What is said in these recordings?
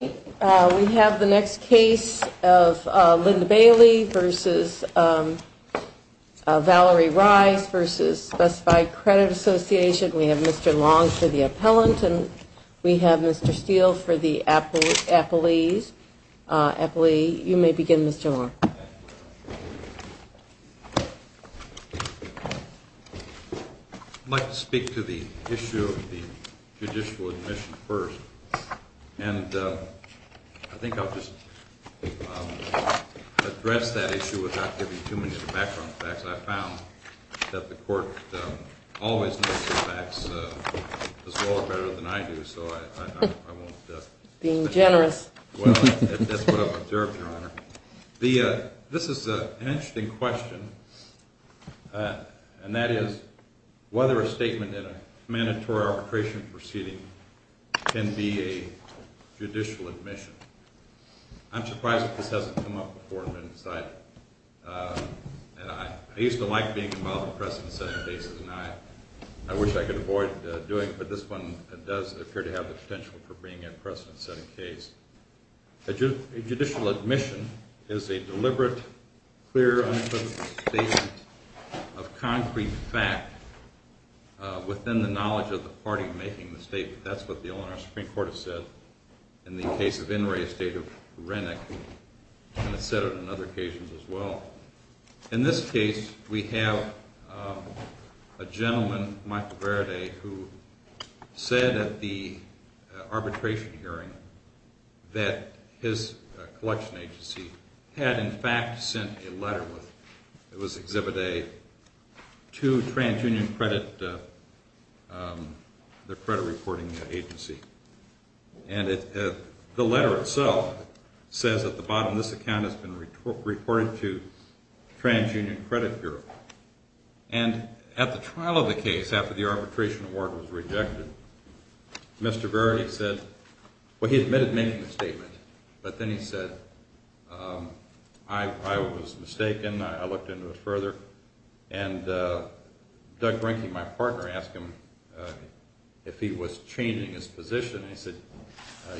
We have the next case of Linda Bailey v. Valerie Rice v. Specified Credit Association. We have Mr. Long for the appellant and we have Mr. Steele for the appellee. You may begin, Mr. Long. I'd like to speak to the issue of the judicial admission first. And I think I'll just address that issue without giving too many of the background facts. I found that the court always knows the facts as well or better than I do, so I won't. Being generous. Well, that's what I've observed, Your Honor. This is an interesting question, and that is whether a statement in a mandatory arbitration proceeding can be a judicial admission. I'm surprised that this hasn't come up before. I used to like being involved in precedent-setting cases, and I wish I could avoid doing it, but this one does appear to have the potential for being a precedent-setting case. A judicial admission is a deliberate, clear, unobtrusive statement of concrete fact within the knowledge of the party making the statement. That's what the Illinois Supreme Court has said in the case of In re, a state of Renwick, and it's said on other occasions as well. In this case, we have a gentleman, Michael Verde, who said at the arbitration hearing that his collection agency had, in fact, sent a letter. It was Exhibit A to the credit reporting agency. And the letter itself says at the bottom, this account has been reported to TransUnion Credit Bureau. And at the trial of the case, after the arbitration award was rejected, Mr. Verde said – well, he admitted making the statement, but then he said, I was mistaken. I looked into it further, and Doug Brinke, my partner, asked him if he was changing his position, and he said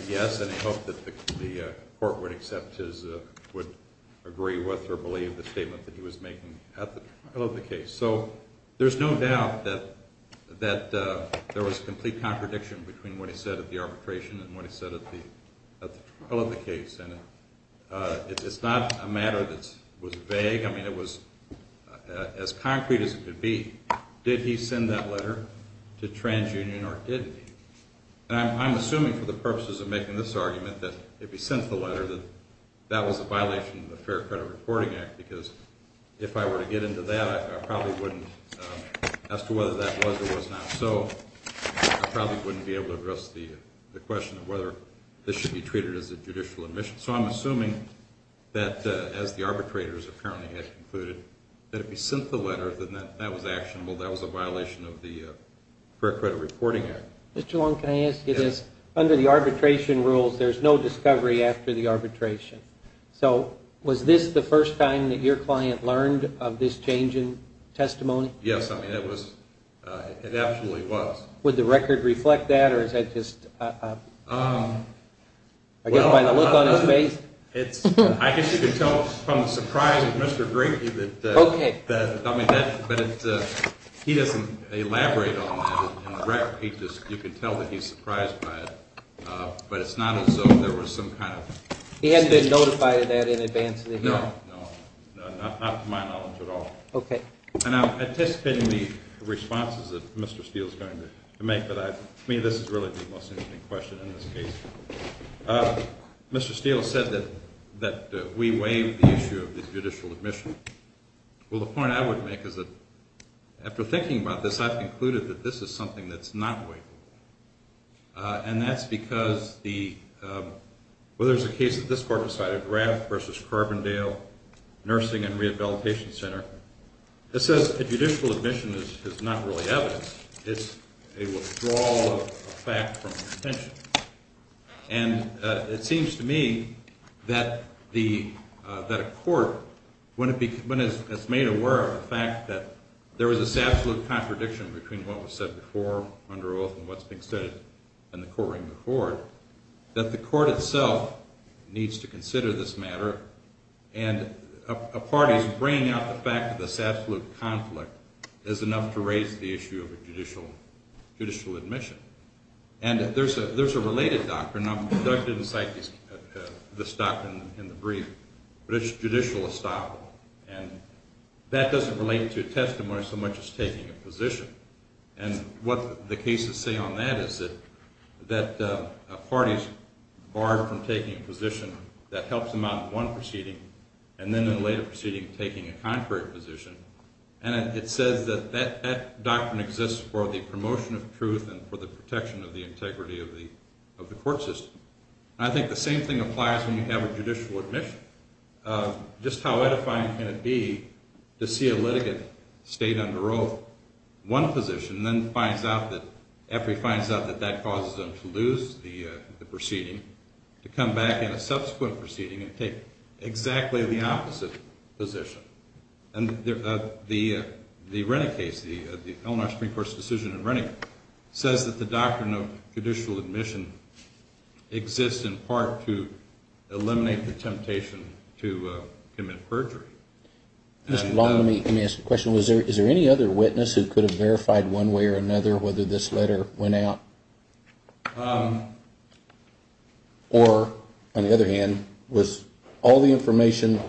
yes, and he hoped that the court would accept his – would agree with or believe the statement that he was making at the trial of the case. So there's no doubt that there was complete contradiction between what he said at the arbitration and what he said at the trial of the case, and it's not a matter that was vague. I mean, it was as concrete as it could be. Did he send that letter to TransUnion or didn't he? And I'm assuming for the purposes of making this argument that if he sent the letter, that that was a violation of the Fair Credit Reporting Act, because if I were to get into that, I probably wouldn't – as to whether that was or was not so, I probably wouldn't be able to address the question of whether this should be treated as a judicial admission. So I'm assuming that, as the arbitrators apparently had concluded, that if he sent the letter, that that was actionable, that was a violation of the Fair Credit Reporting Act. Mr. Long, can I ask you this? Under the arbitration rules, there's no discovery after the arbitration. So was this the first time that your client learned of this change in testimony? Yes, I mean, it was – it absolutely was. Would the record reflect that, or is that just – I guess by the look on his face? I guess you can tell from the surprise of Mr. Grady that – I mean, he doesn't elaborate on that. You can tell that he's surprised by it. But it's not as though there was some kind of – He hadn't been notified of that in advance of the hearing? No, not to my knowledge at all. Okay. And I'm anticipating the responses that Mr. Steele is going to make, but I – I mean, this is really the most interesting question in this case. Mr. Steele said that we waive the issue of the judicial admission. Well, the point I would make is that after thinking about this, I've concluded that this is something that's not waivable. And that's because the – well, there's a case that this court decided, Graff v. Carbondale Nursing and Rehabilitation Center, that says a judicial admission is not really evidence. It's a withdrawal of fact from the contention. And it seems to me that the – that a court, when it's made aware of the fact that there was this absolute contradiction between what was said before under oath and what's being said in the courtroom before, that the court itself needs to consider this matter. And a party's bringing out the fact that this absolute conflict is enough to raise the issue of a judicial admission. And there's a related doctrine – and I didn't cite this doctrine in the brief, but it's judicial estoppel. And that doesn't relate to a testimony so much as taking a position. And what the cases say on that is that a party's barred from taking a position that helps them out in one proceeding and then in a later proceeding taking a contrary position. And it says that that doctrine exists for the promotion of truth and for the protection of the integrity of the court system. And I think the same thing applies when you have a judicial admission. Just how edifying can it be to see a litigant state under oath one position, then finds out that – after he finds out that that causes him to lose the proceeding, to come back in a subsequent proceeding and take exactly the opposite position. And the Rennick case, the Eleanor Supreme Court's decision in Rennick, says that the doctrine of judicial admission exists in part to eliminate the temptation to commit perjury. Mr. Long, let me ask a question. Is there any other witness who could have verified one way or another whether this letter went out? Or, on the other hand, was all the information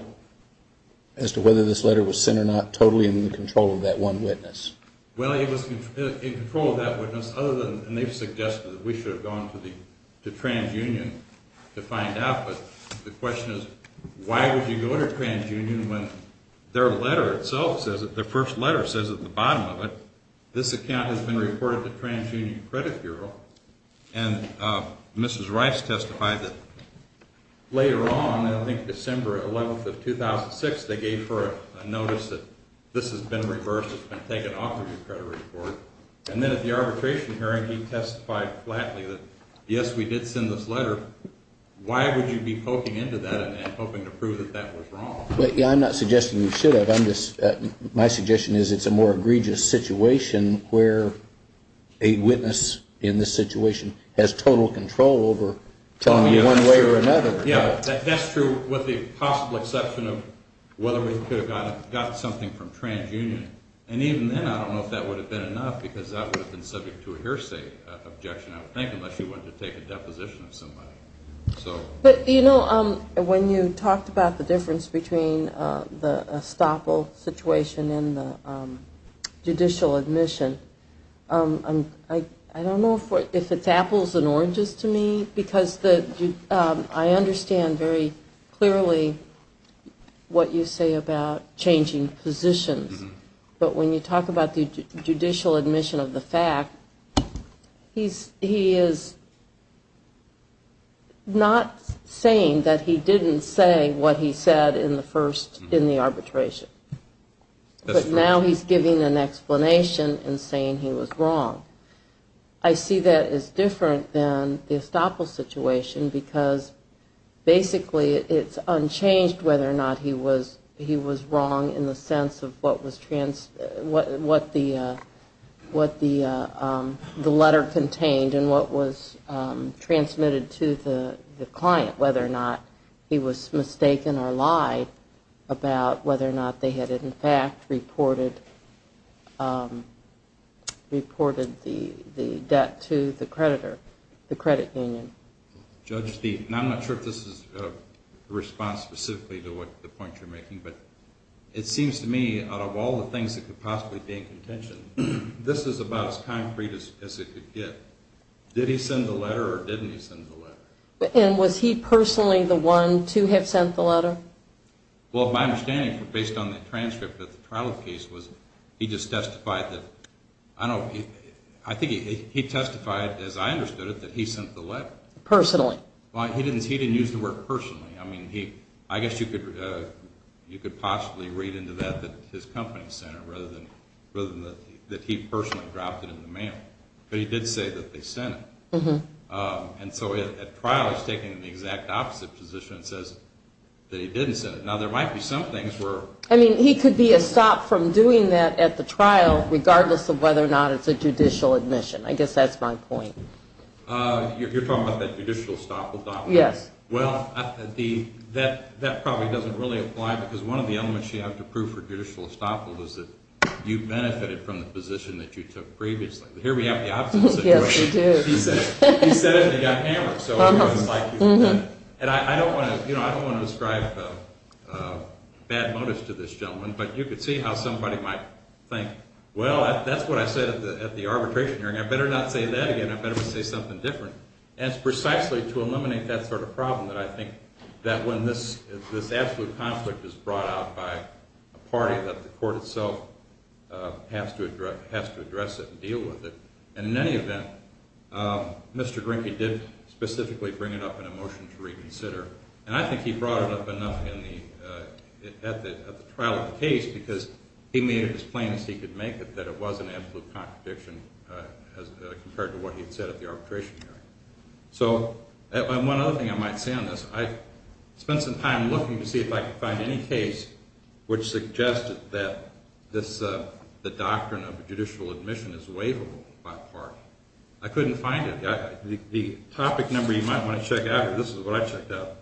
as to whether this letter was sent or not totally in the control of that one witness? Well, it was in control of that witness, other than – and they've suggested that we should have gone to TransUnion to find out. But the question is, why would you go to TransUnion when their letter itself says – their first letter says at the bottom of it, this account has been reported to TransUnion Credit Bureau. And Mrs. Rice testified that later on, I think December 11th of 2006, they gave her a notice that this has been reversed, it's been taken off of your credit report. And then at the arbitration hearing, he testified flatly that, yes, we did send this letter. Why would you be poking into that and hoping to prove that that was wrong? I'm not suggesting we should have. I'm just – my suggestion is it's a more egregious situation where a witness in this situation has total control over telling you one way or another. Yeah, that's true, with the possible exception of whether we could have gotten something from TransUnion. And even then, I don't know if that would have been enough, because that would have been subject to a hearsay objection, I would think, unless you wanted to take a deposition of somebody. But, you know, when you talked about the difference between the estoppel situation and the judicial admission, I don't know if it's apples and oranges to me, because I understand very clearly what you say about changing positions. But when you talk about the judicial admission of the fact, he is not saying that he didn't say what he said in the arbitration. But now he's giving an explanation and saying he was wrong. I see that as different than the estoppel situation, because basically it's unchanged whether or not he was wrong in the sense of what was – what the letter contained and what was transmitted to the client, whether or not he was mistaken or lied about whether or not they had, in fact, reported that. I'm not sure if this is a response specifically to the point you're making, but it seems to me, out of all the things that could possibly be in contention, this is about as concrete as it could get. Did he send the letter or didn't he send the letter? And was he personally the one to have sent the letter? Well, my understanding, based on the transcript of the trial case, was he just testified that – I think he testified, as I understood it, that he sent the letter. Personally. Well, he didn't use the word personally. I mean, I guess you could possibly read into that that his company sent it rather than that he personally dropped it in the mail. But he did say that they sent it. And so at trial he's taking the exact opposite position and says that he didn't send it. Now, there might be some things where – I mean, he could be a stop from doing that at the trial regardless of whether or not it's a judicial admission. I guess that's my point. You're talking about that judicial estoppel document? Yes. Well, that probably doesn't really apply because one of the elements you have to prove for judicial estoppel is that you benefited from the position that you took previously. Here we have the opposite situation. Yes, we do. He said it and he got hammered. So I'm going to like you for that. And I don't want to describe bad motives to this gentleman, but you could see how somebody might think, well, that's what I said at the arbitration hearing. I better not say that again. I better say something different. And it's precisely to eliminate that sort of problem that I think that when this absolute conflict is brought out by a party that the court itself has to address it and deal with it. And in any event, Mr. Grinke did specifically bring it up in a motion to reconsider, and I think he brought it up enough at the trial of the case because he made it as plain as he could make it that it was an absolute contradiction compared to what he had said at the arbitration hearing. So one other thing I might say on this, I spent some time looking to see if I could find any case which suggested that the doctrine of judicial admission is waivable by a party. I couldn't find it. The topic number you might want to check out here, this is what I checked out.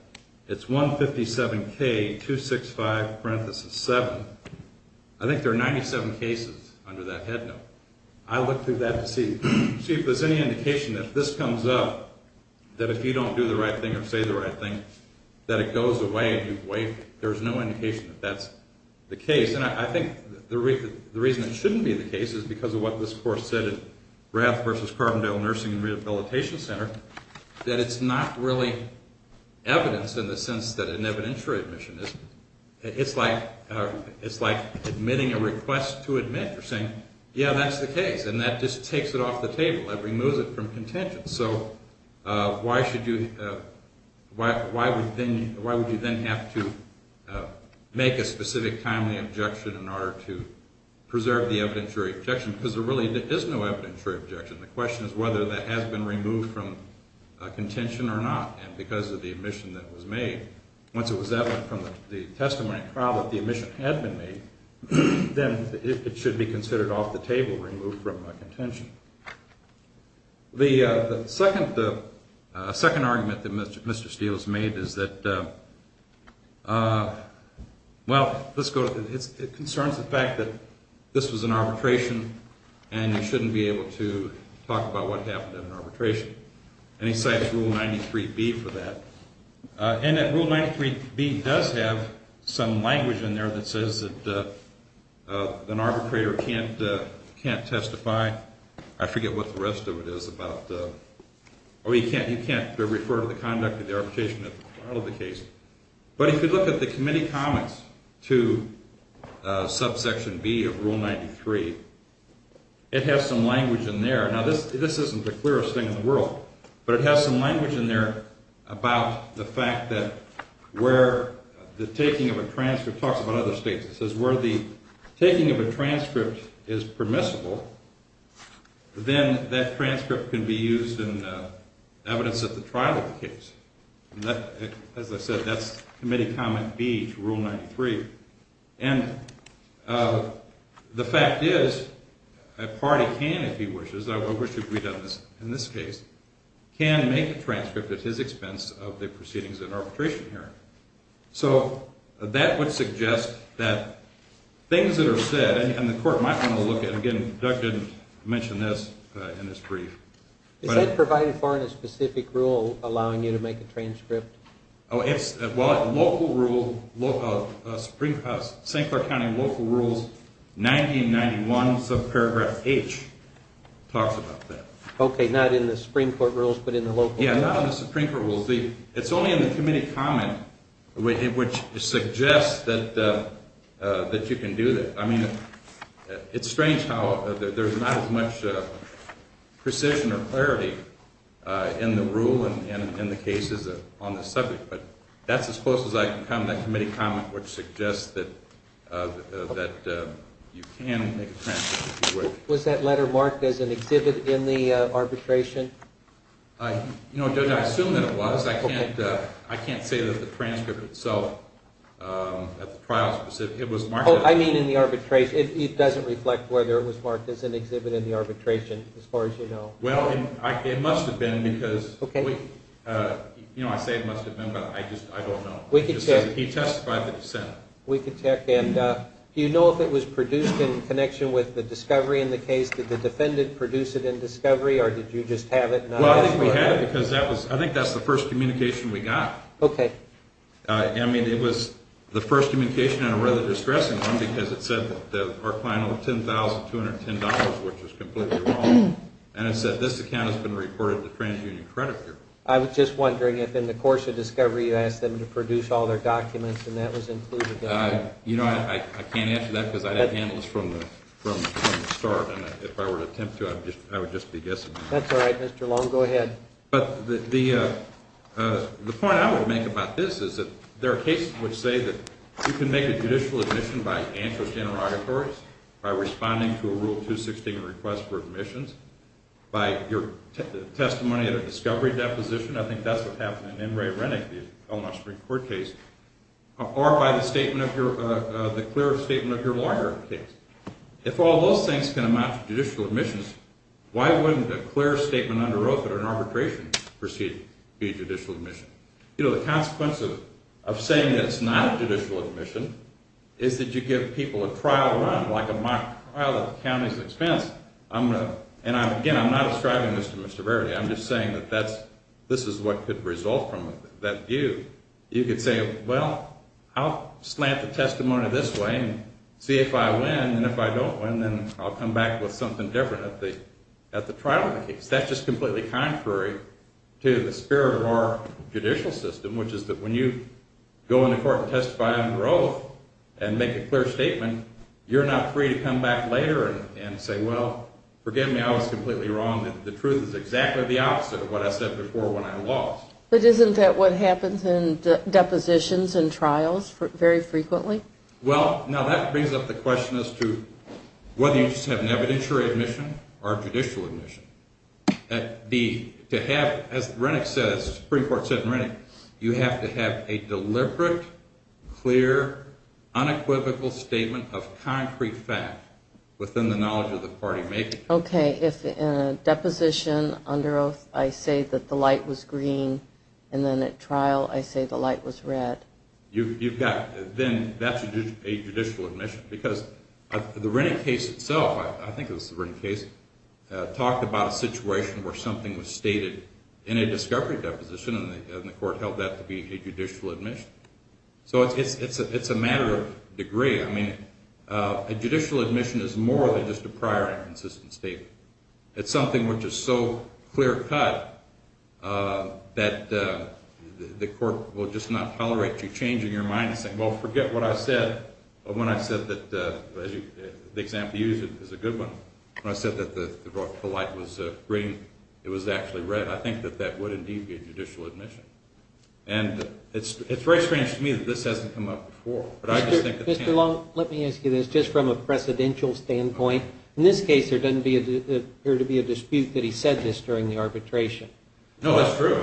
It's 157K265 parenthesis 7. I think there are 97 cases under that headnote. I looked through that to see if there's any indication that if this comes up, that if you don't do the right thing or say the right thing, that it goes away and you waive it. There's no indication that that's the case. And I think the reason it shouldn't be the case is because of what this court said at Rath v. Carbondale Nursing and Rehabilitation Center, that it's not really evidence in the sense that an evidentiary admission is. It's like admitting a request to admit. You're saying, yeah, that's the case. And that just takes it off the table. It removes it from contention. So why would you then have to make a specific timely objection in order to preserve the evidentiary objection? Because there really is no evidentiary objection. The question is whether that has been removed from contention or not and because of the admission that was made. Once it was evident from the testimony and trial that the admission had been made, then it should be considered off the table, removed from contention. The second argument that Mr. Steele has made is that, well, it concerns the fact that this was an arbitration and you shouldn't be able to talk about what happened in an arbitration. And he cites Rule 93B for that. And Rule 93B does have some language in there that says that an arbitrator can't testify. I forget what the rest of it is about. You can't refer to the conduct of the arbitration as part of the case. But if you look at the committee comments to subsection B of Rule 93, it has some language in there. Now, this isn't the clearest thing in the world, but it has some language in there about the fact that where the taking of a transcript – it talks about other states. It says where the taking of a transcript is permissible, then that transcript can be used in evidence at the trial of the case. As I said, that's committee comment B to Rule 93. And the fact is a party can, if he wishes – I wish we'd done this in this case – can make a transcript at his expense of the proceedings at arbitration hearing. So that would suggest that things that are said – and the court might want to look at – again, Doug didn't mention this in his brief. Is that provided for in a specific rule allowing you to make a transcript? Oh, it's – well, local rule – St. Clair County local rules 1991 subparagraph H talks about that. Okay, not in the Supreme Court rules, but in the local rules? Yeah, not in the Supreme Court rules. It's only in the committee comment, which suggests that you can do that. I mean, it's strange how there's not as much precision or clarity in the rule and in the cases on this subject, but that's as close as I can come. That committee comment would suggest that you can make a transcript. Was that letter marked as an exhibit in the arbitration? You know, Doug, I assume that it was. I can't say that the transcript itself at the trial specific – it was marked as – Oh, I mean in the arbitration. It doesn't reflect whether it was marked as an exhibit in the arbitration as far as you know. Well, it must have been because – Okay. You know, I say it must have been, but I just – I don't know. We can check. He testified that he sent it. We can check. And do you know if it was produced in connection with the discovery in the case? Did the defendant produce it in discovery or did you just have it? Well, I think we had it because that was – I think that's the first communication we got. Okay. I mean, it was the first communication and a rather distressing one because it said that our client owed $10,210, which is completely wrong, and it said this account has been reported to TransUnion Credit Bureau. I was just wondering if in the course of discovery you asked them to produce all their documents and that was included. You know, I can't answer that because I didn't handle this from the start, and if I were to attempt to, I would just be guessing. That's all right, Mr. Long. Go ahead. But the point I would make about this is that there are cases which say that you can make a judicial admission by antitrust interrogatories, by responding to a Rule 216 request for admissions, by your testimony at a discovery deposition. I think that's what happened in N. Ray Rennick, the Illinois Supreme Court case, or by the statement of your – the clear statement of your lawyer case. If all those things can amount to judicial admissions, why wouldn't a clear statement under oath at an arbitration proceeding be a judicial admission? You know, the consequence of saying that it's not a judicial admission is that you give people a trial run, like a mock trial at the county's expense. I'm going to – and again, I'm not ascribing this to Mr. Verity. I'm just saying that that's – this is what could result from that view. You could say, well, I'll slant the testimony this way and see if I win, and if I don't win, then I'll come back with something different at the trial of the case. That's just completely contrary to the spirit of our judicial system, which is that when you go into court and testify under oath and make a clear statement, you're not free to come back later and say, well, forgive me, I was completely wrong. The truth is exactly the opposite of what I said before when I lost. But isn't that what happens in depositions and trials very frequently? Well, now that brings up the question as to whether you just have an evidentiary admission or a judicial admission. To have, as the Supreme Court said in Rennick, you have to have a deliberate, clear, unequivocal statement of concrete fact within the knowledge of the party making it. Okay, if in a deposition under oath I say that the light was green and then at trial I say the light was red. You've got – then that's a judicial admission because the Rennick case itself – I think it was the Rennick case – talked about a situation where something was stated in a discovery deposition and the court held that to be a judicial admission. So it's a matter of degree. I mean, a judicial admission is more than just a prior and consistent statement. It's something which is so clear-cut that the court will just not tolerate you changing your mind and saying, well, forget what I said when I said that the example you used is a good one. When I said that the light was green, it was actually red, I think that that would indeed be a judicial admission. And it's very strange to me that this hasn't come up before. Mr. Long, let me ask you this, just from a presidential standpoint, in this case there doesn't appear to be a dispute that he said this during the arbitration. No, that's true.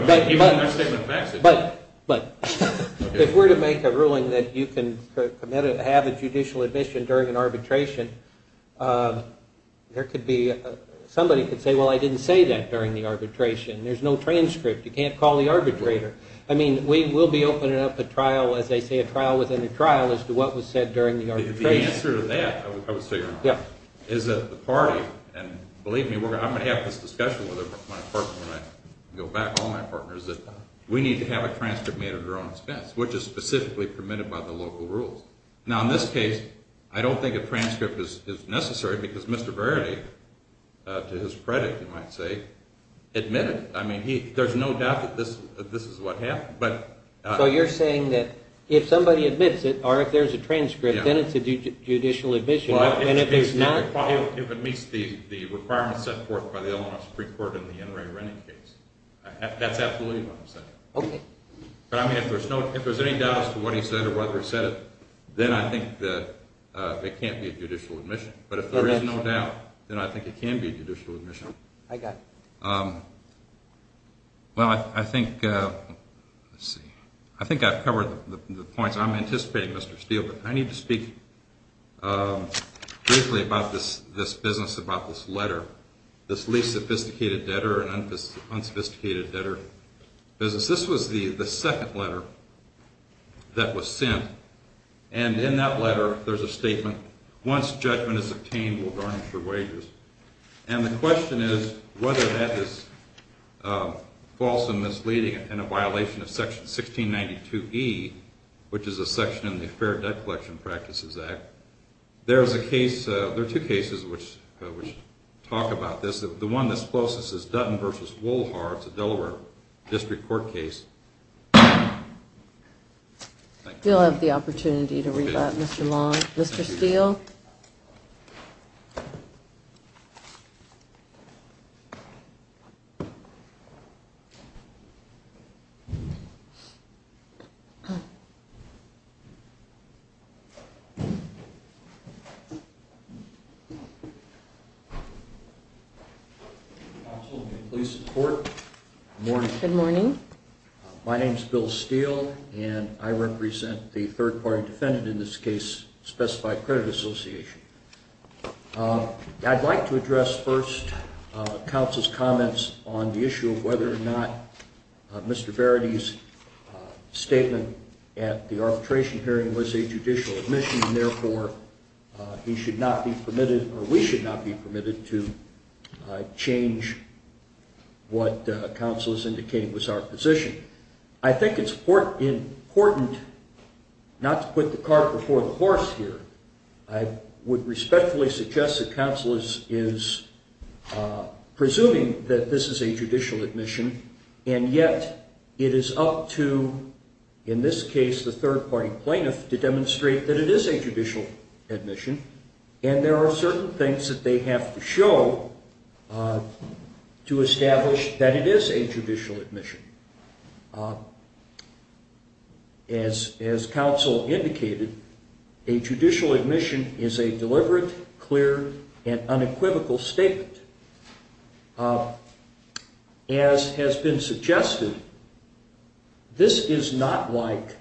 But if we're to make a ruling that you can have a judicial admission during an arbitration, there could be – somebody could say, well, I didn't say that during the arbitration. There's no transcript. You can't call the arbitrator. I mean, we will be opening up a trial, as they say, a trial within a trial as to what was said during the arbitration. The answer to that, I would say, is that the party – and believe me, I'm going to have this discussion with my partner when I go back, all my partners, that we need to have a transcript made at our own expense, which is specifically permitted by the local rules. Now, in this case, I don't think a transcript is necessary because Mr. Verity, to his credit, you might say, admitted it. I mean, there's no doubt that this is what happened. So you're saying that if somebody admits it, or if there's a transcript, then it's a judicial admission, and if there's not – Well, if it meets the requirements set forth by the Illinois Supreme Court in the Inouye Rennie case, that's absolutely what I'm saying. Okay. If there's any doubt as to what he said or whether he said it, then I think that it can't be a judicial admission. But if there is no doubt, then I think it can be a judicial admission. I got you. Well, I think – let's see – I think I've covered the points. I'm anticipating, Mr. Steele, but I need to speak briefly about this business, about this letter, this least sophisticated debtor and unsophisticated debtor business. This was the second letter that was sent. And in that letter, there's a statement, once judgment is obtained, we'll garnish your wages. And the question is whether that is false and misleading and a violation of Section 1692E, which is a section in the Fair Debt Collection Practices Act. There's a case – there are two cases which talk about this. The one that's closest is Dutton v. Wolhart. It's a Delaware District Court case. We'll have the opportunity to read that, Mr. Long. Mr. Steele? Counsel, please support. Good morning. Good morning. My name is Bill Steele, and I represent the third-party defendant in this case, Specified Credit Association. I'd like to address first counsel's comments on the issue of whether or not Mr. Verity's statement at the arbitration hearing was a judicial admission, and therefore he should not be permitted, or we should not be permitted, to change what counsel is indicating was our position. I think it's important not to put the cart before the horse here. I would respectfully suggest that counsel is presuming that this is a judicial admission, and yet it is up to, in this case, the third-party plaintiff to demonstrate that it is a judicial admission, and there are certain things that they have to show to establish that it is a judicial admission. As counsel indicated, a judicial admission is a deliberate, clear, and unequivocal statement. As has been suggested, this is not like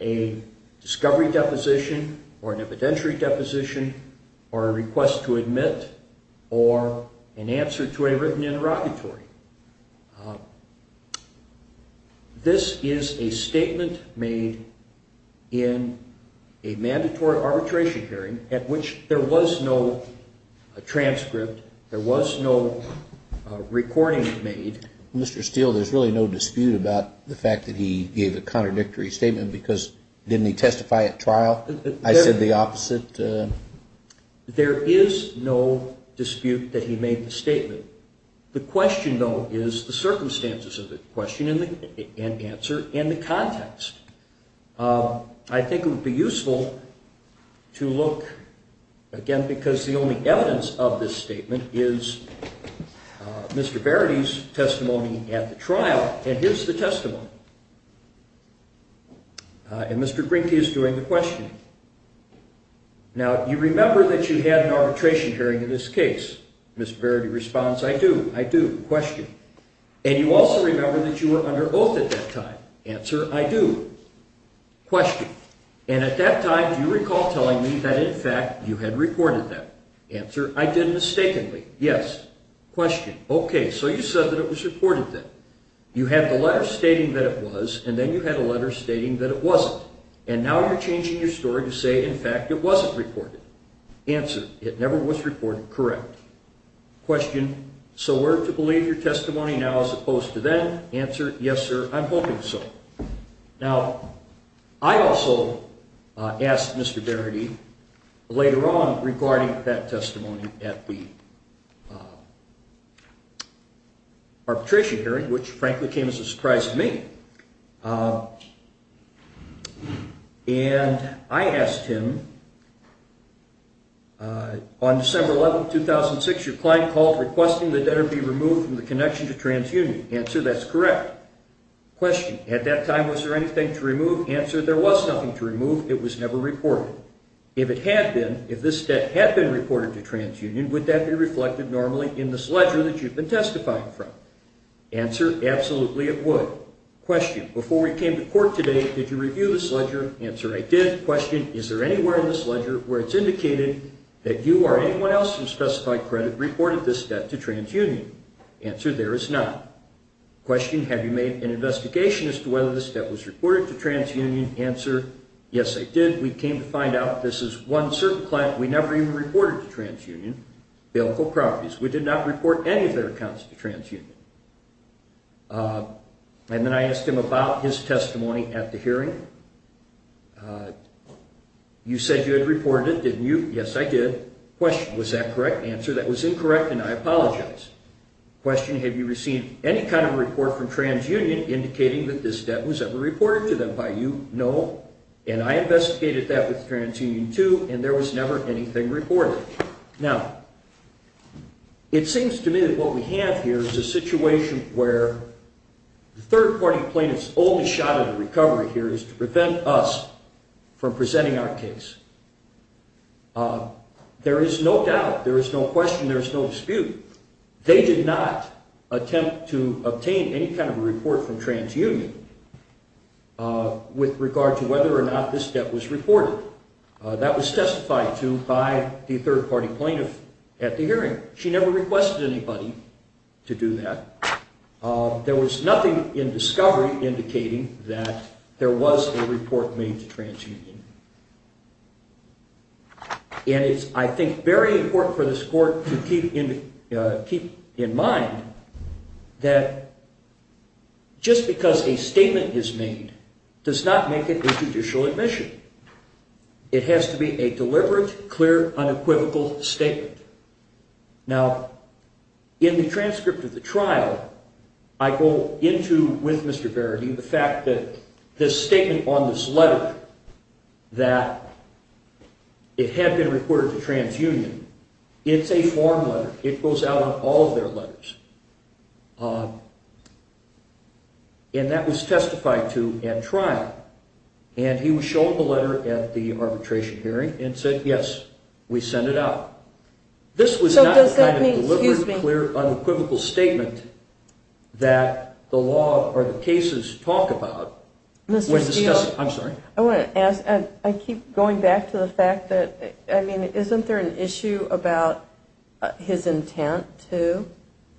a discovery deposition or an evidentiary deposition or a request to admit or an answer to a written interrogatory. This is a statement made in a mandatory arbitration hearing at which there was no transcript, there was no recording made. Mr. Steele, there's really no dispute about the fact that he gave a contradictory statement because didn't he testify at trial? I said the opposite. There is no dispute that he made the statement. The question, though, is the circumstances of the question and answer and the context. I think it would be useful to look, again, because the only evidence of this statement is Mr. Verity's testimony at the trial, and here's the testimony, and Mr. Grinty is doing the questioning. Now, you remember that you had an arbitration hearing in this case. Mr. Verity responds, I do, I do. Question. And you also remember that you were under oath at that time. Answer, I do. Question. And at that time, do you recall telling me that, in fact, you had recorded that? Answer, I did mistakenly. Yes. Question. OK, so you said that it was recorded then. You had the letter stating that it was, and then you had a letter stating that it wasn't. And now you're changing your story to say, in fact, it wasn't reported. Answer, it never was reported. Correct. Question. So were to believe your testimony now as opposed to then? Answer, yes, sir, I'm hoping so. Now, I also asked Mr. Verity later on regarding that testimony at the arbitration hearing, which, frankly, came as a surprise to me. And I asked him, on December 11, 2006, your client called requesting the debtor be removed from the connection to TransUnion. Answer, that's correct. Question. At that time, was there anything to remove? Answer, there was nothing to remove. It was never reported. If it had been, if this debt had been reported to TransUnion, would that be reflected normally in this ledger that you've been testifying from? Answer, absolutely it would. Question. Before we came to court today, did you review this ledger? Answer, I did. Question. Is there anywhere in this ledger where it's indicated that you or anyone else from specified credit reported this debt to TransUnion? Answer, there is not. Question. Have you made an investigation as to whether this debt was reported to TransUnion? Answer, yes, I did. We came to find out this is one certain client we never even reported to TransUnion, Bailiful Properties. We did not report any of their accounts to TransUnion. And then I asked him about his testimony at the hearing. You said you had reported it, didn't you? Yes, I did. Question. Was that correct? Answer, that was incorrect, and I apologize. Question. Have you received any kind of report from TransUnion indicating that this debt was ever reported to them by you? No, and I investigated that with TransUnion, too, and there was never anything reported. Now, it seems to me that what we have here is a situation where the third-party plaintiffs' only shot at a recovery here is to prevent us from presenting our case. There is no doubt, there is no question, there is no dispute. They did not attempt to obtain any kind of a report from TransUnion with regard to whether or not this debt was reported. That was testified to by the third-party plaintiff at the hearing. She never requested anybody to do that. There was nothing in discovery indicating that there was a report made to TransUnion. And it's, I think, very important for this Court to keep in mind that just because a statement is made does not make it a judicial admission. It has to be a deliberate, clear, unequivocal statement. Now, in the transcript of the trial, I go into with Mr. Verity the fact that the statement on this letter that it had been reported to TransUnion, it's a form letter. It goes out on all of their letters, and that was testified to at trial. And he was shown the letter at the arbitration hearing and said, yes, we send it out. This was not a deliberate, clear, unequivocal statement that the law or the cases talk about. Mr. Steele, I want to ask, and I keep going back to the fact that, I mean, isn't there an issue about his intent to,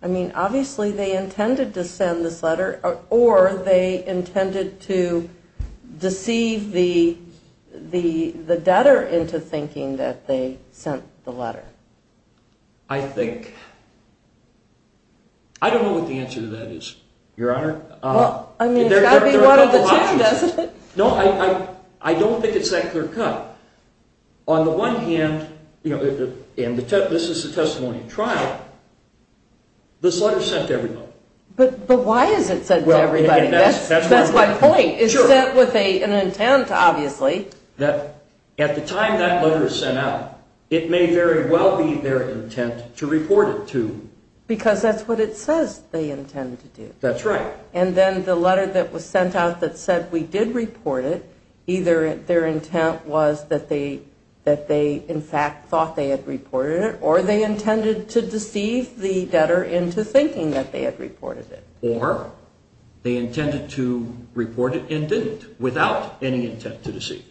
I mean, obviously they intended to send this letter, or they intended to deceive the debtor into thinking that they sent the letter. I think, I don't know what the answer to that is, Your Honor. Well, I mean, it's got to be one of the two, doesn't it? No, I don't think it's that clear cut. On the one hand, and this is a testimony at trial, this letter is sent to everybody. But why is it sent to everybody? That's my point. It's sent with an intent, obviously. At the time that letter is sent out, it may very well be their intent to report it to. Because that's what it says they intend to do. That's right. And then the letter that was sent out that said we did report it, either their intent was that they, in fact, thought they had reported it, or they intended to deceive the debtor into thinking that they had reported it. Or they intended to report it and didn't, without any intent to deceive,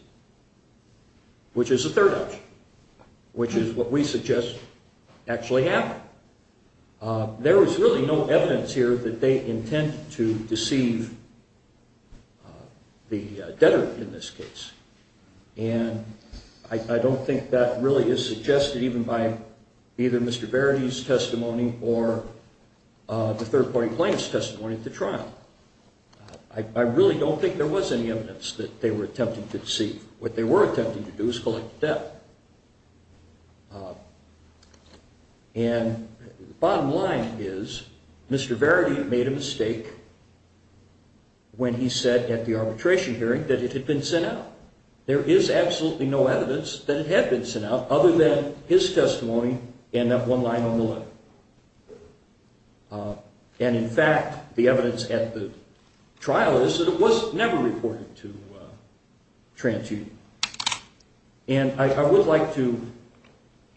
which is a third option, which is what we suggest actually happened. There was really no evidence here that they intended to deceive the debtor in this case. And I don't think that really is suggested even by either Mr. Verity's testimony or the third party plaintiff's testimony at the trial. I really don't think there was any evidence that they were attempting to deceive. What they were attempting to do is collect debt. And the bottom line is Mr. Verity made a mistake when he said at the arbitration hearing that it had been sent out. There is absolutely no evidence that it had been sent out other than his testimony and that one line on the letter. And, in fact, the evidence at the trial is that it was never reported to TransUnion. And I would like to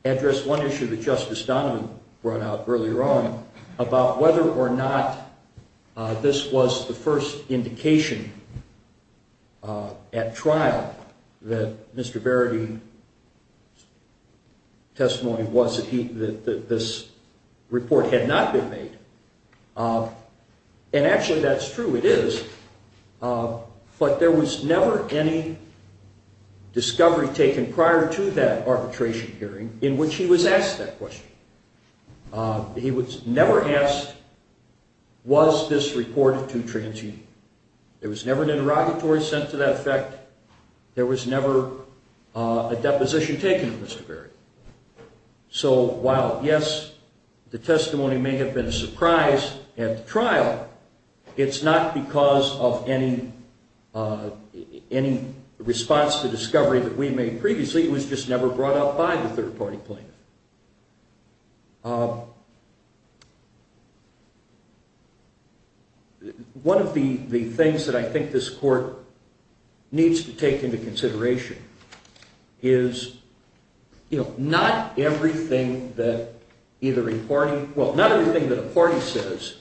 address one issue that Justice Donovan brought out earlier on, about whether or not this was the first indication at trial that Mr. Verity's testimony was that this report had not been made. And actually that's true, it is. But there was never any discovery taken prior to that arbitration hearing in which he was asked that question. He was never asked, was this reported to TransUnion? There was never an interrogatory sent to that effect. There was never a deposition taken of Mr. Verity. So while, yes, the testimony may have been a surprise at the trial, it's not because of any response to discovery that we made previously. It was just never brought up by the third party plaintiff. One of the things that I think this court needs to take into consideration is, you know, not everything that either a party, well, not everything that a party says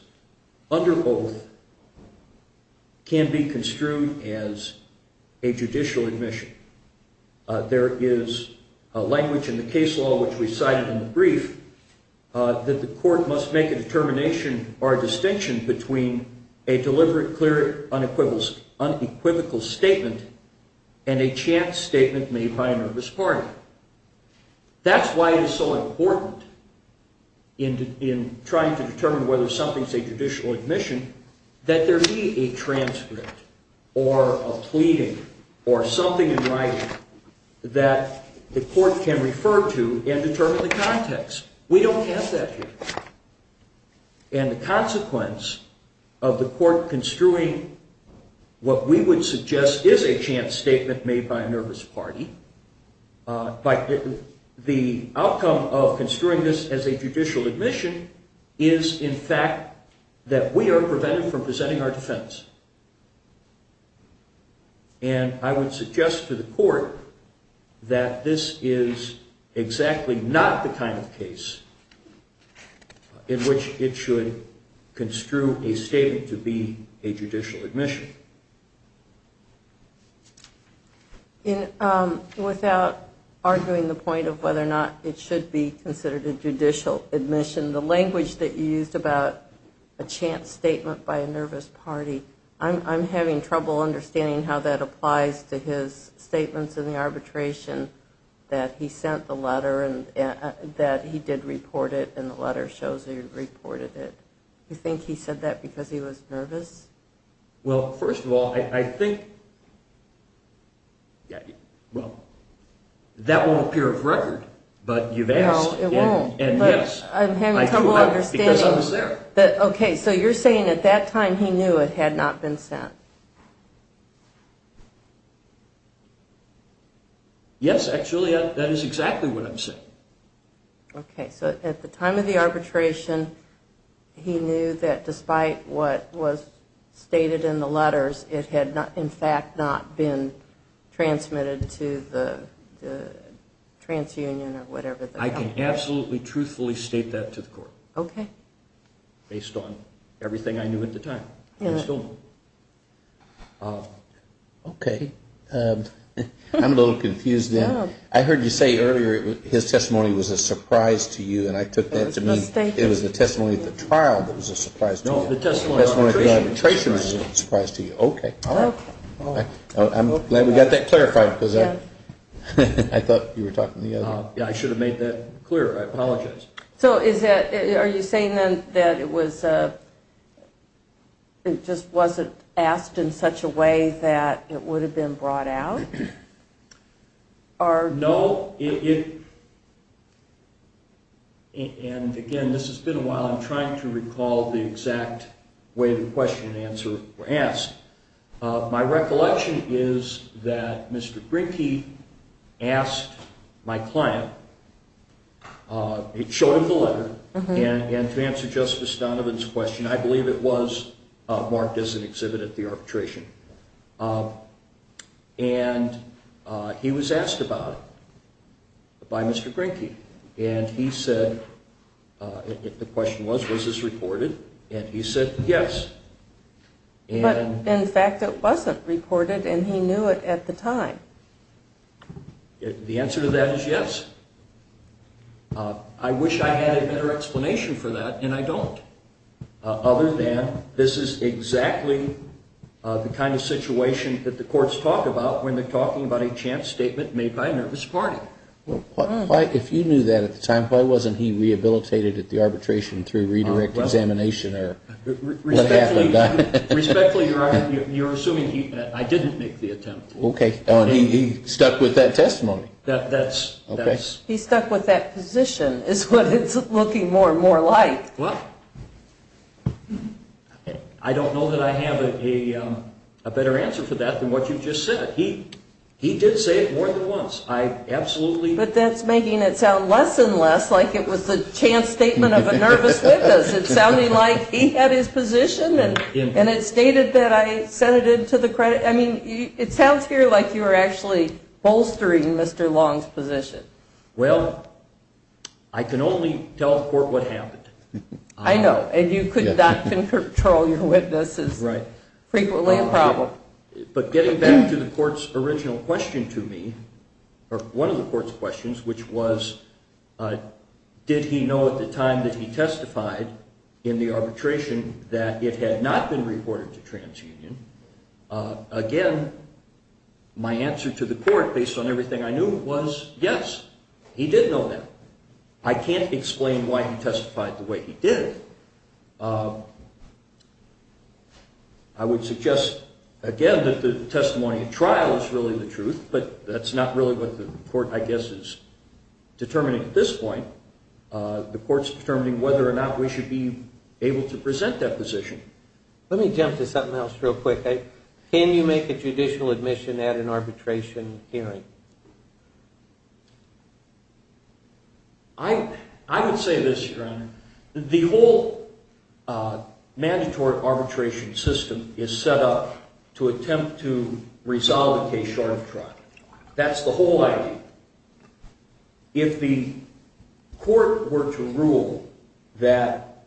under oath can be construed as a judicial admission. There is a language in the case law, which we cited in the brief, that the court must make a determination or a distinction between a deliberate, clear, unequivocal statement and a chance statement made by a nervous party. That's why it is so important in trying to determine whether something's a judicial admission that there be a transcript or a pleading or something in writing that the court can refer to and determine the context. We don't have that here. And the consequence of the court construing what we would suggest is a chance statement made by a nervous party, the outcome of construing this as a judicial admission is, in fact, that we are prevented from presenting our defense. And I would suggest to the court that this is exactly not the kind of case in which it should construe a statement to be a judicial admission. Without arguing the point of whether or not it should be considered a judicial admission, the language that you used about a chance statement by a nervous party, I'm having trouble understanding how that applies to his statements in the arbitration that he sent the letter and that he did report it and the letter shows he reported it. Well, first of all, I think, well, that won't appear of record, but you've asked. No, it won't, but I'm having trouble understanding. Because I was there. Okay, so you're saying at that time he knew it had not been sent. Yes, actually, that is exactly what I'm saying. Okay, so at the time of the arbitration, he knew that despite what was stated in the letters, it had, in fact, not been transmitted to the transunion or whatever. I can absolutely, truthfully state that to the court. Okay. Based on everything I knew at the time. Okay, I'm a little confused then. I heard you say earlier his testimony was a surprise to you, and I took that to mean it was the testimony of the trial that was a surprise to you. No, the testimony of the arbitration. The testimony of the arbitration was a surprise to you. Okay. I'm glad we got that clarified because I thought you were talking to the other. I should have made that clearer. I apologize. So are you saying then that it just wasn't asked in such a way that it would have been brought out? No. And, again, this has been a while. I'm trying to recall the exact way the question and answer were asked. My recollection is that Mr. Grinke asked my client, showed him the letter, and to answer Justice Donovan's question, I believe it was marked as an exhibit at the arbitration. And he was asked about it by Mr. Grinke. And he said, the question was, was this reported? And he said yes. But, in fact, it wasn't reported, and he knew it at the time. The answer to that is yes. I wish I had a better explanation for that, and I don't. Other than this is exactly the kind of situation that the courts talk about when they're talking about a chance statement made by a nervous party. If you knew that at the time, why wasn't he rehabilitated at the arbitration through redirect examination? Respectfully, you're assuming I didn't make the attempt. Okay. He stuck with that testimony. He stuck with that position is what it's looking more and more like. Well, I don't know that I have a better answer for that than what you just said. He did say it more than once. I absolutely. But that's making it sound less and less like it was a chance statement of a nervous witness. It sounded like he had his position, and it stated that I sent it in to the credit. I mean, it sounds here like you were actually bolstering Mr. Long's position. Well, I can only tell the court what happened. I know, and you could not control your witnesses. Right. Frequently a problem. But getting back to the court's original question to me, or one of the court's questions, which was did he know at the time that he testified in the arbitration that it had not been reported to TransUnion, again, my answer to the court, based on everything I knew, was yes, he did know that. I can't explain why he testified the way he did. I would suggest, again, that the testimony at trial is really the truth, but that's not really what the court, I guess, is determining at this point. The court's determining whether or not we should be able to present that position. Let me jump to something else real quick. Can you make a judicial admission at an arbitration hearing? I would say this, Your Honor. The whole mandatory arbitration system is set up to attempt to resolve a case short of trial. That's the whole idea. If the court were to rule that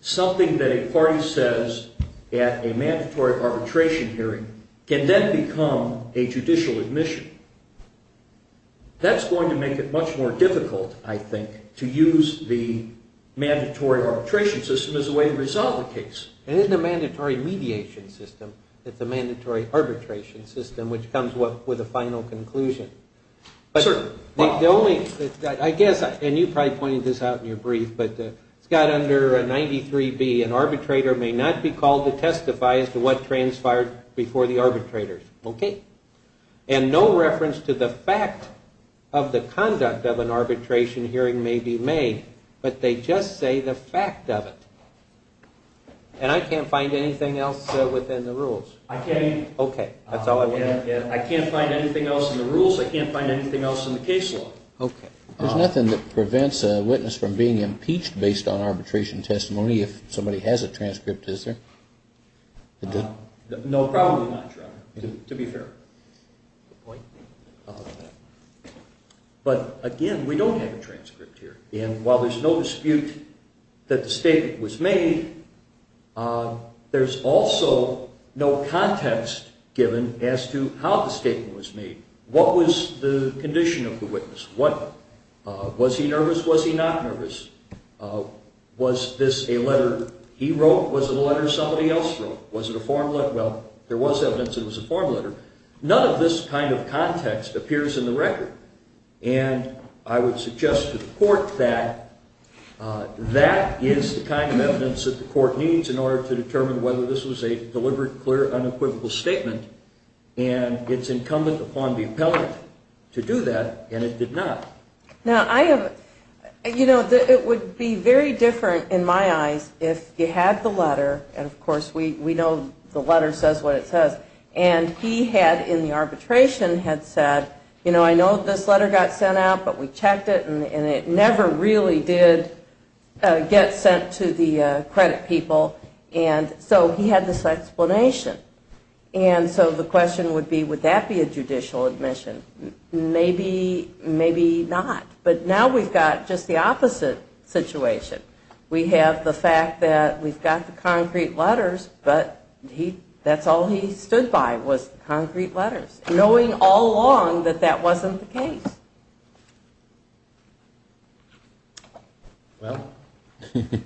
something that a party says at a mandatory arbitration hearing can then become a judicial admission, that's going to make it much more difficult, I think, to use the mandatory arbitration system as a way to resolve the case. It isn't a mandatory mediation system. It's a mandatory arbitration system, which comes with a final conclusion. Certainly. I guess, and you probably pointed this out in your brief, but it's got under 93B, an arbitrator may not be called to testify as to what transpired before the arbitrator. Okay. And no reference to the fact of the conduct of an arbitration hearing may be made, but they just say the fact of it. And I can't find anything else within the rules? I can. Okay. I can't find anything else in the rules. I can't find anything else in the case law. Okay. There's nothing that prevents a witness from being impeached based on arbitration testimony if somebody has a transcript, is there? No, probably not, Your Honor, to be fair. But, again, we don't have a transcript here. And while there's no dispute that the statement was made, there's also no context given as to how the statement was made. What was the condition of the witness? Was he nervous? Was he not nervous? Was this a letter he wrote? Was it a letter somebody else wrote? Was it a form letter? Well, there was evidence it was a form letter. None of this kind of context appears in the record. And I would suggest to the court that that is the kind of evidence that the court needs in order to determine whether this was a deliberate, clear, unequivocal statement. And it's incumbent upon the appellant to do that, and it did not. Now, it would be very different, in my eyes, if you had the letter, and, of course, we know the letter says what it says, and he had, in the arbitration, had said, you know, I know this letter got sent out, but we checked it, and it never really did get sent to the credit people. And so he had this explanation. And so the question would be, would that be a judicial admission? Maybe, maybe not. But now we've got just the opposite situation. We have the fact that we've got the concrete letters, but that's all he stood by was concrete letters, knowing all along that that wasn't the case. Well, again,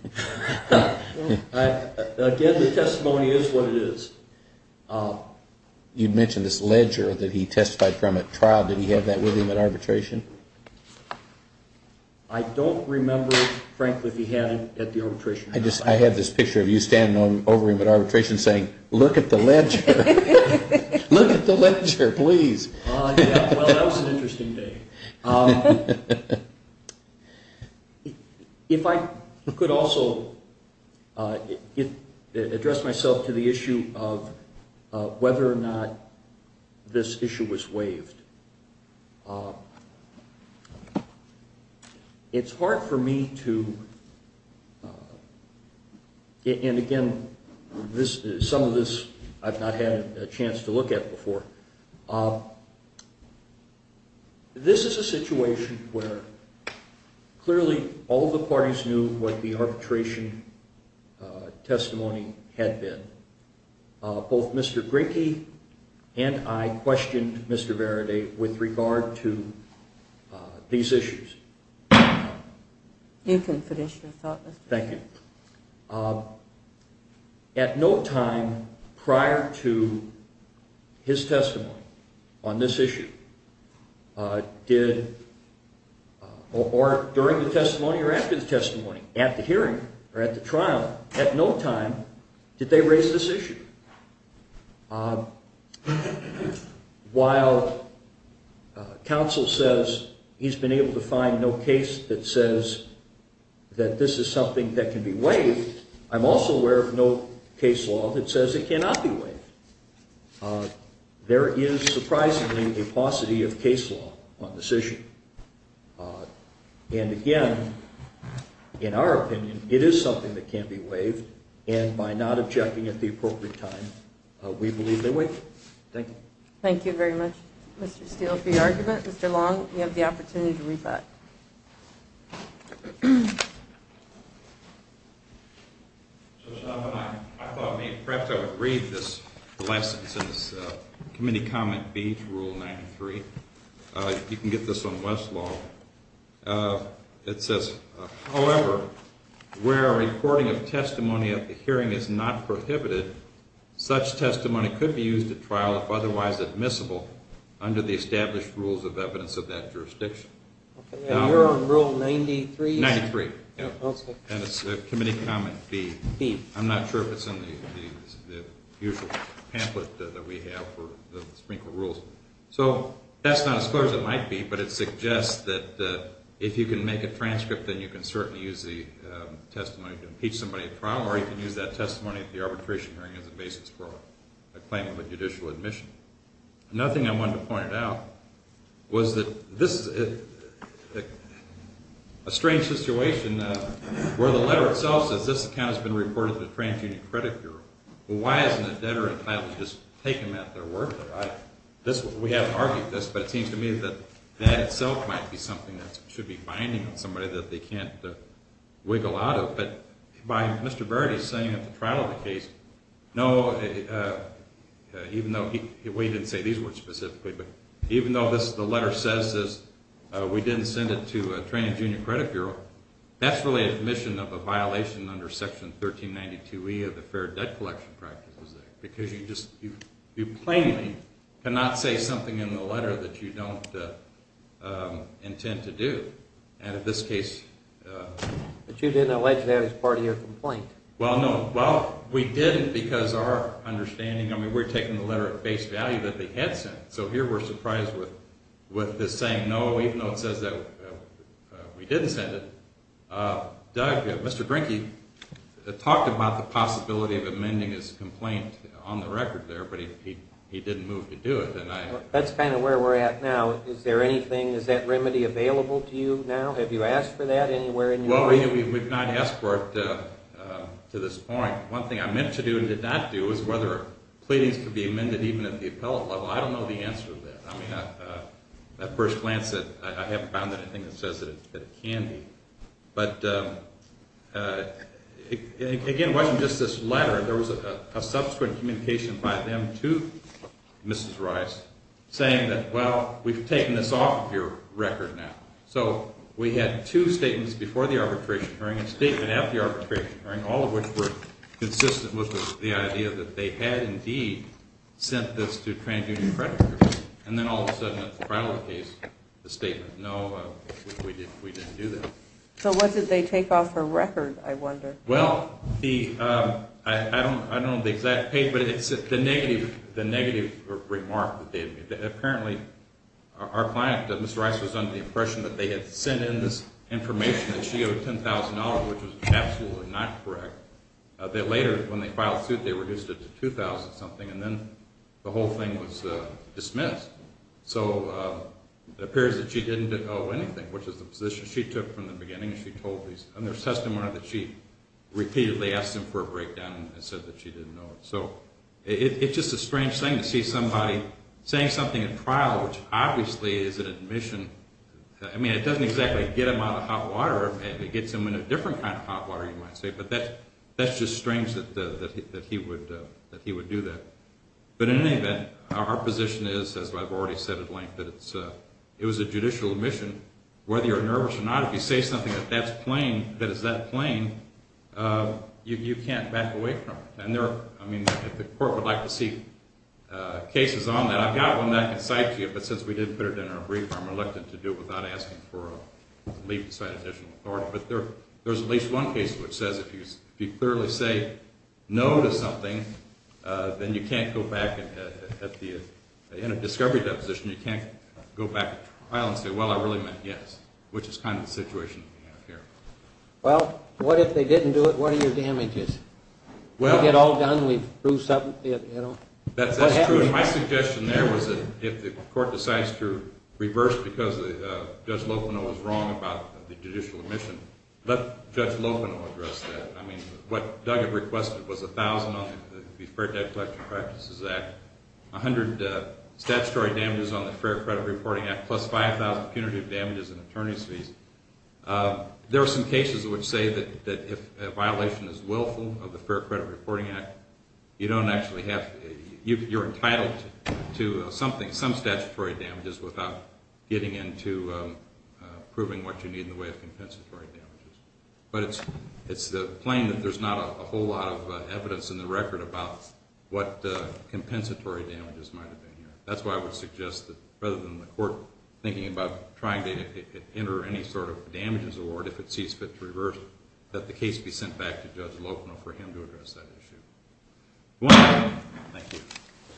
the testimony is what it is. You mentioned this ledger that he testified from at trial. Did he have that with him at arbitration? I don't remember, frankly, if he had it at the arbitration. I have this picture of you standing over him at arbitration saying, look at the ledger. Look at the ledger, please. Well, that was an interesting day. If I could also address myself to the issue of whether or not this issue was waived. It's hard for me to, and again, some of this I've not had a chance to look at before. This is a situation where clearly all the parties knew what the arbitration testimony had been. Both Mr. Grinke and I questioned Mr. Varaday with regard to these issues. You can finish your thought, Mr. Grinke. Thank you. At no time prior to his testimony on this issue did, or during the testimony or after the testimony, at the hearing or at the trial, at no time did they raise this issue. While counsel says he's been able to find no case that says that this is something that can be waived, I'm also aware of no case law that says it cannot be waived. There is surprisingly a paucity of case law on this issue. And again, in our opinion, it is something that can be waived, and by not objecting at the appropriate time, we believe they waive it. Thank you. Thank you very much, Mr. Steele, for your argument. Mr. Long, you have the opportunity to read that. I thought maybe perhaps I would read this last sentence, Committee Comment B to Rule 93. You can get this on Westlaw. It says, however, where a recording of testimony at the hearing is not prohibited, such testimony could be used at trial if otherwise admissible under the established rules of evidence of that jurisdiction. You're on Rule 93? 93. And it's Committee Comment B. I'm not sure if it's in the usual pamphlet that we have for the Supreme Court rules. So that's not as clear as it might be, but it suggests that if you can make a transcript, then you can certainly use the testimony to impeach somebody at trial, or you can use that testimony at the arbitration hearing as a basis for a claim of a judicial admission. Another thing I wanted to point out was that this is a strange situation where the letter itself says this account has been reported to the TransUnion Credit Bureau. Well, why hasn't a debtor entitled to just take them at their word for it? We haven't argued this, but it seems to me that that itself might be something that should be binding on somebody that they can't wiggle out of. But Mr. Baird is saying at the trial of the case, no, even though we didn't say these words specifically, but even though the letter says this, we didn't send it to the TransUnion Credit Bureau, that's really an admission of a violation under Section 1392E of the Fair Debt Collection Practices Act because you plainly cannot say something in the letter that you don't intend to do. But you didn't allege that it was part of your complaint. Well, no. Well, we didn't because our understanding, I mean, we're taking the letter at face value that they had sent. So here we're surprised with this saying no, even though it says that we didn't send it. Doug, Mr. Brinke talked about the possibility of amending his complaint on the record there, but he didn't move to do it. That's kind of where we're at now. Is there anything, is that remedy available to you now? Have you asked for that anywhere? Well, we've not asked for it to this point. One thing I meant to do and did not do is whether pleadings could be amended even at the appellate level. I don't know the answer to that. I mean, at first glance, I haven't found anything that says that it can be. But, again, watching just this letter, there was a subsequent communication by them to Mrs. Rice saying that, well, we've taken this off of your record now. So we had two statements before the arbitration hearing and a statement after the arbitration hearing, all of which were consistent with the idea that they had indeed sent this to trans-union creditors. And then all of a sudden, at the final case, the statement, no, we didn't do that. Well, I don't know the exact page, but it's the negative remark that they had made. Apparently, our client, Mrs. Rice, was under the impression that they had sent in this information that she owed $10,000, which was absolutely not correct. That later, when they filed suit, they reduced it to $2,000-something, and then the whole thing was dismissed. So it appears that she didn't owe anything, which is the position she took from the beginning. And there's testimony that she repeatedly asked him for a breakdown and said that she didn't know. So it's just a strange thing to see somebody saying something in trial, which obviously is an admission. I mean, it doesn't exactly get him out of hot water. It gets him in a different kind of hot water, you might say. But that's just strange that he would do that. But in any event, our position is, as I've already said at length, that it was a judicial admission. Whether you're nervous or not, if you say something that is that plain, you can't back away from it. I mean, if the court would like to see cases on that, I've got one that I can cite to you, but since we didn't put it in our brief, I'm reluctant to do it without asking for a leave to cite additional authority. But there's at least one case which says if you clearly say no to something, then you can't go back at the end of discovery deposition, you can't go back to trial and say, well, I really meant yes, which is kind of the situation we have here. Well, what if they didn't do it? What are your damages? We get all done, we prove something, you know? That's true, and my suggestion there was that if the court decides to reverse because Judge Locono was wrong about the judicial admission, let Judge Locono address that. I mean, what Doug had requested was $1,000 on the Fair Debt Collection Practices Act, 100 statutory damages on the Fair Credit Reporting Act, plus 5,000 punitive damages and attorney's fees. There are some cases which say that if a violation is willful of the Fair Credit Reporting Act, you don't actually have to be entitled to some statutory damages without getting into proving what you need in the way of compensatory damages. But it's plain that there's not a whole lot of evidence in the record about what compensatory damages might have been here. That's why I would suggest that rather than the court thinking about trying to enter any sort of damages award, if it sees fit to reverse, that the case be sent back to Judge Locono for him to address that issue. Thank you.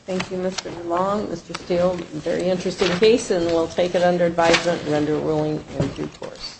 Thank you, Mr. DeLong. Mr. Steele, very interesting case, and we'll take it under advisement, render ruling, and due course.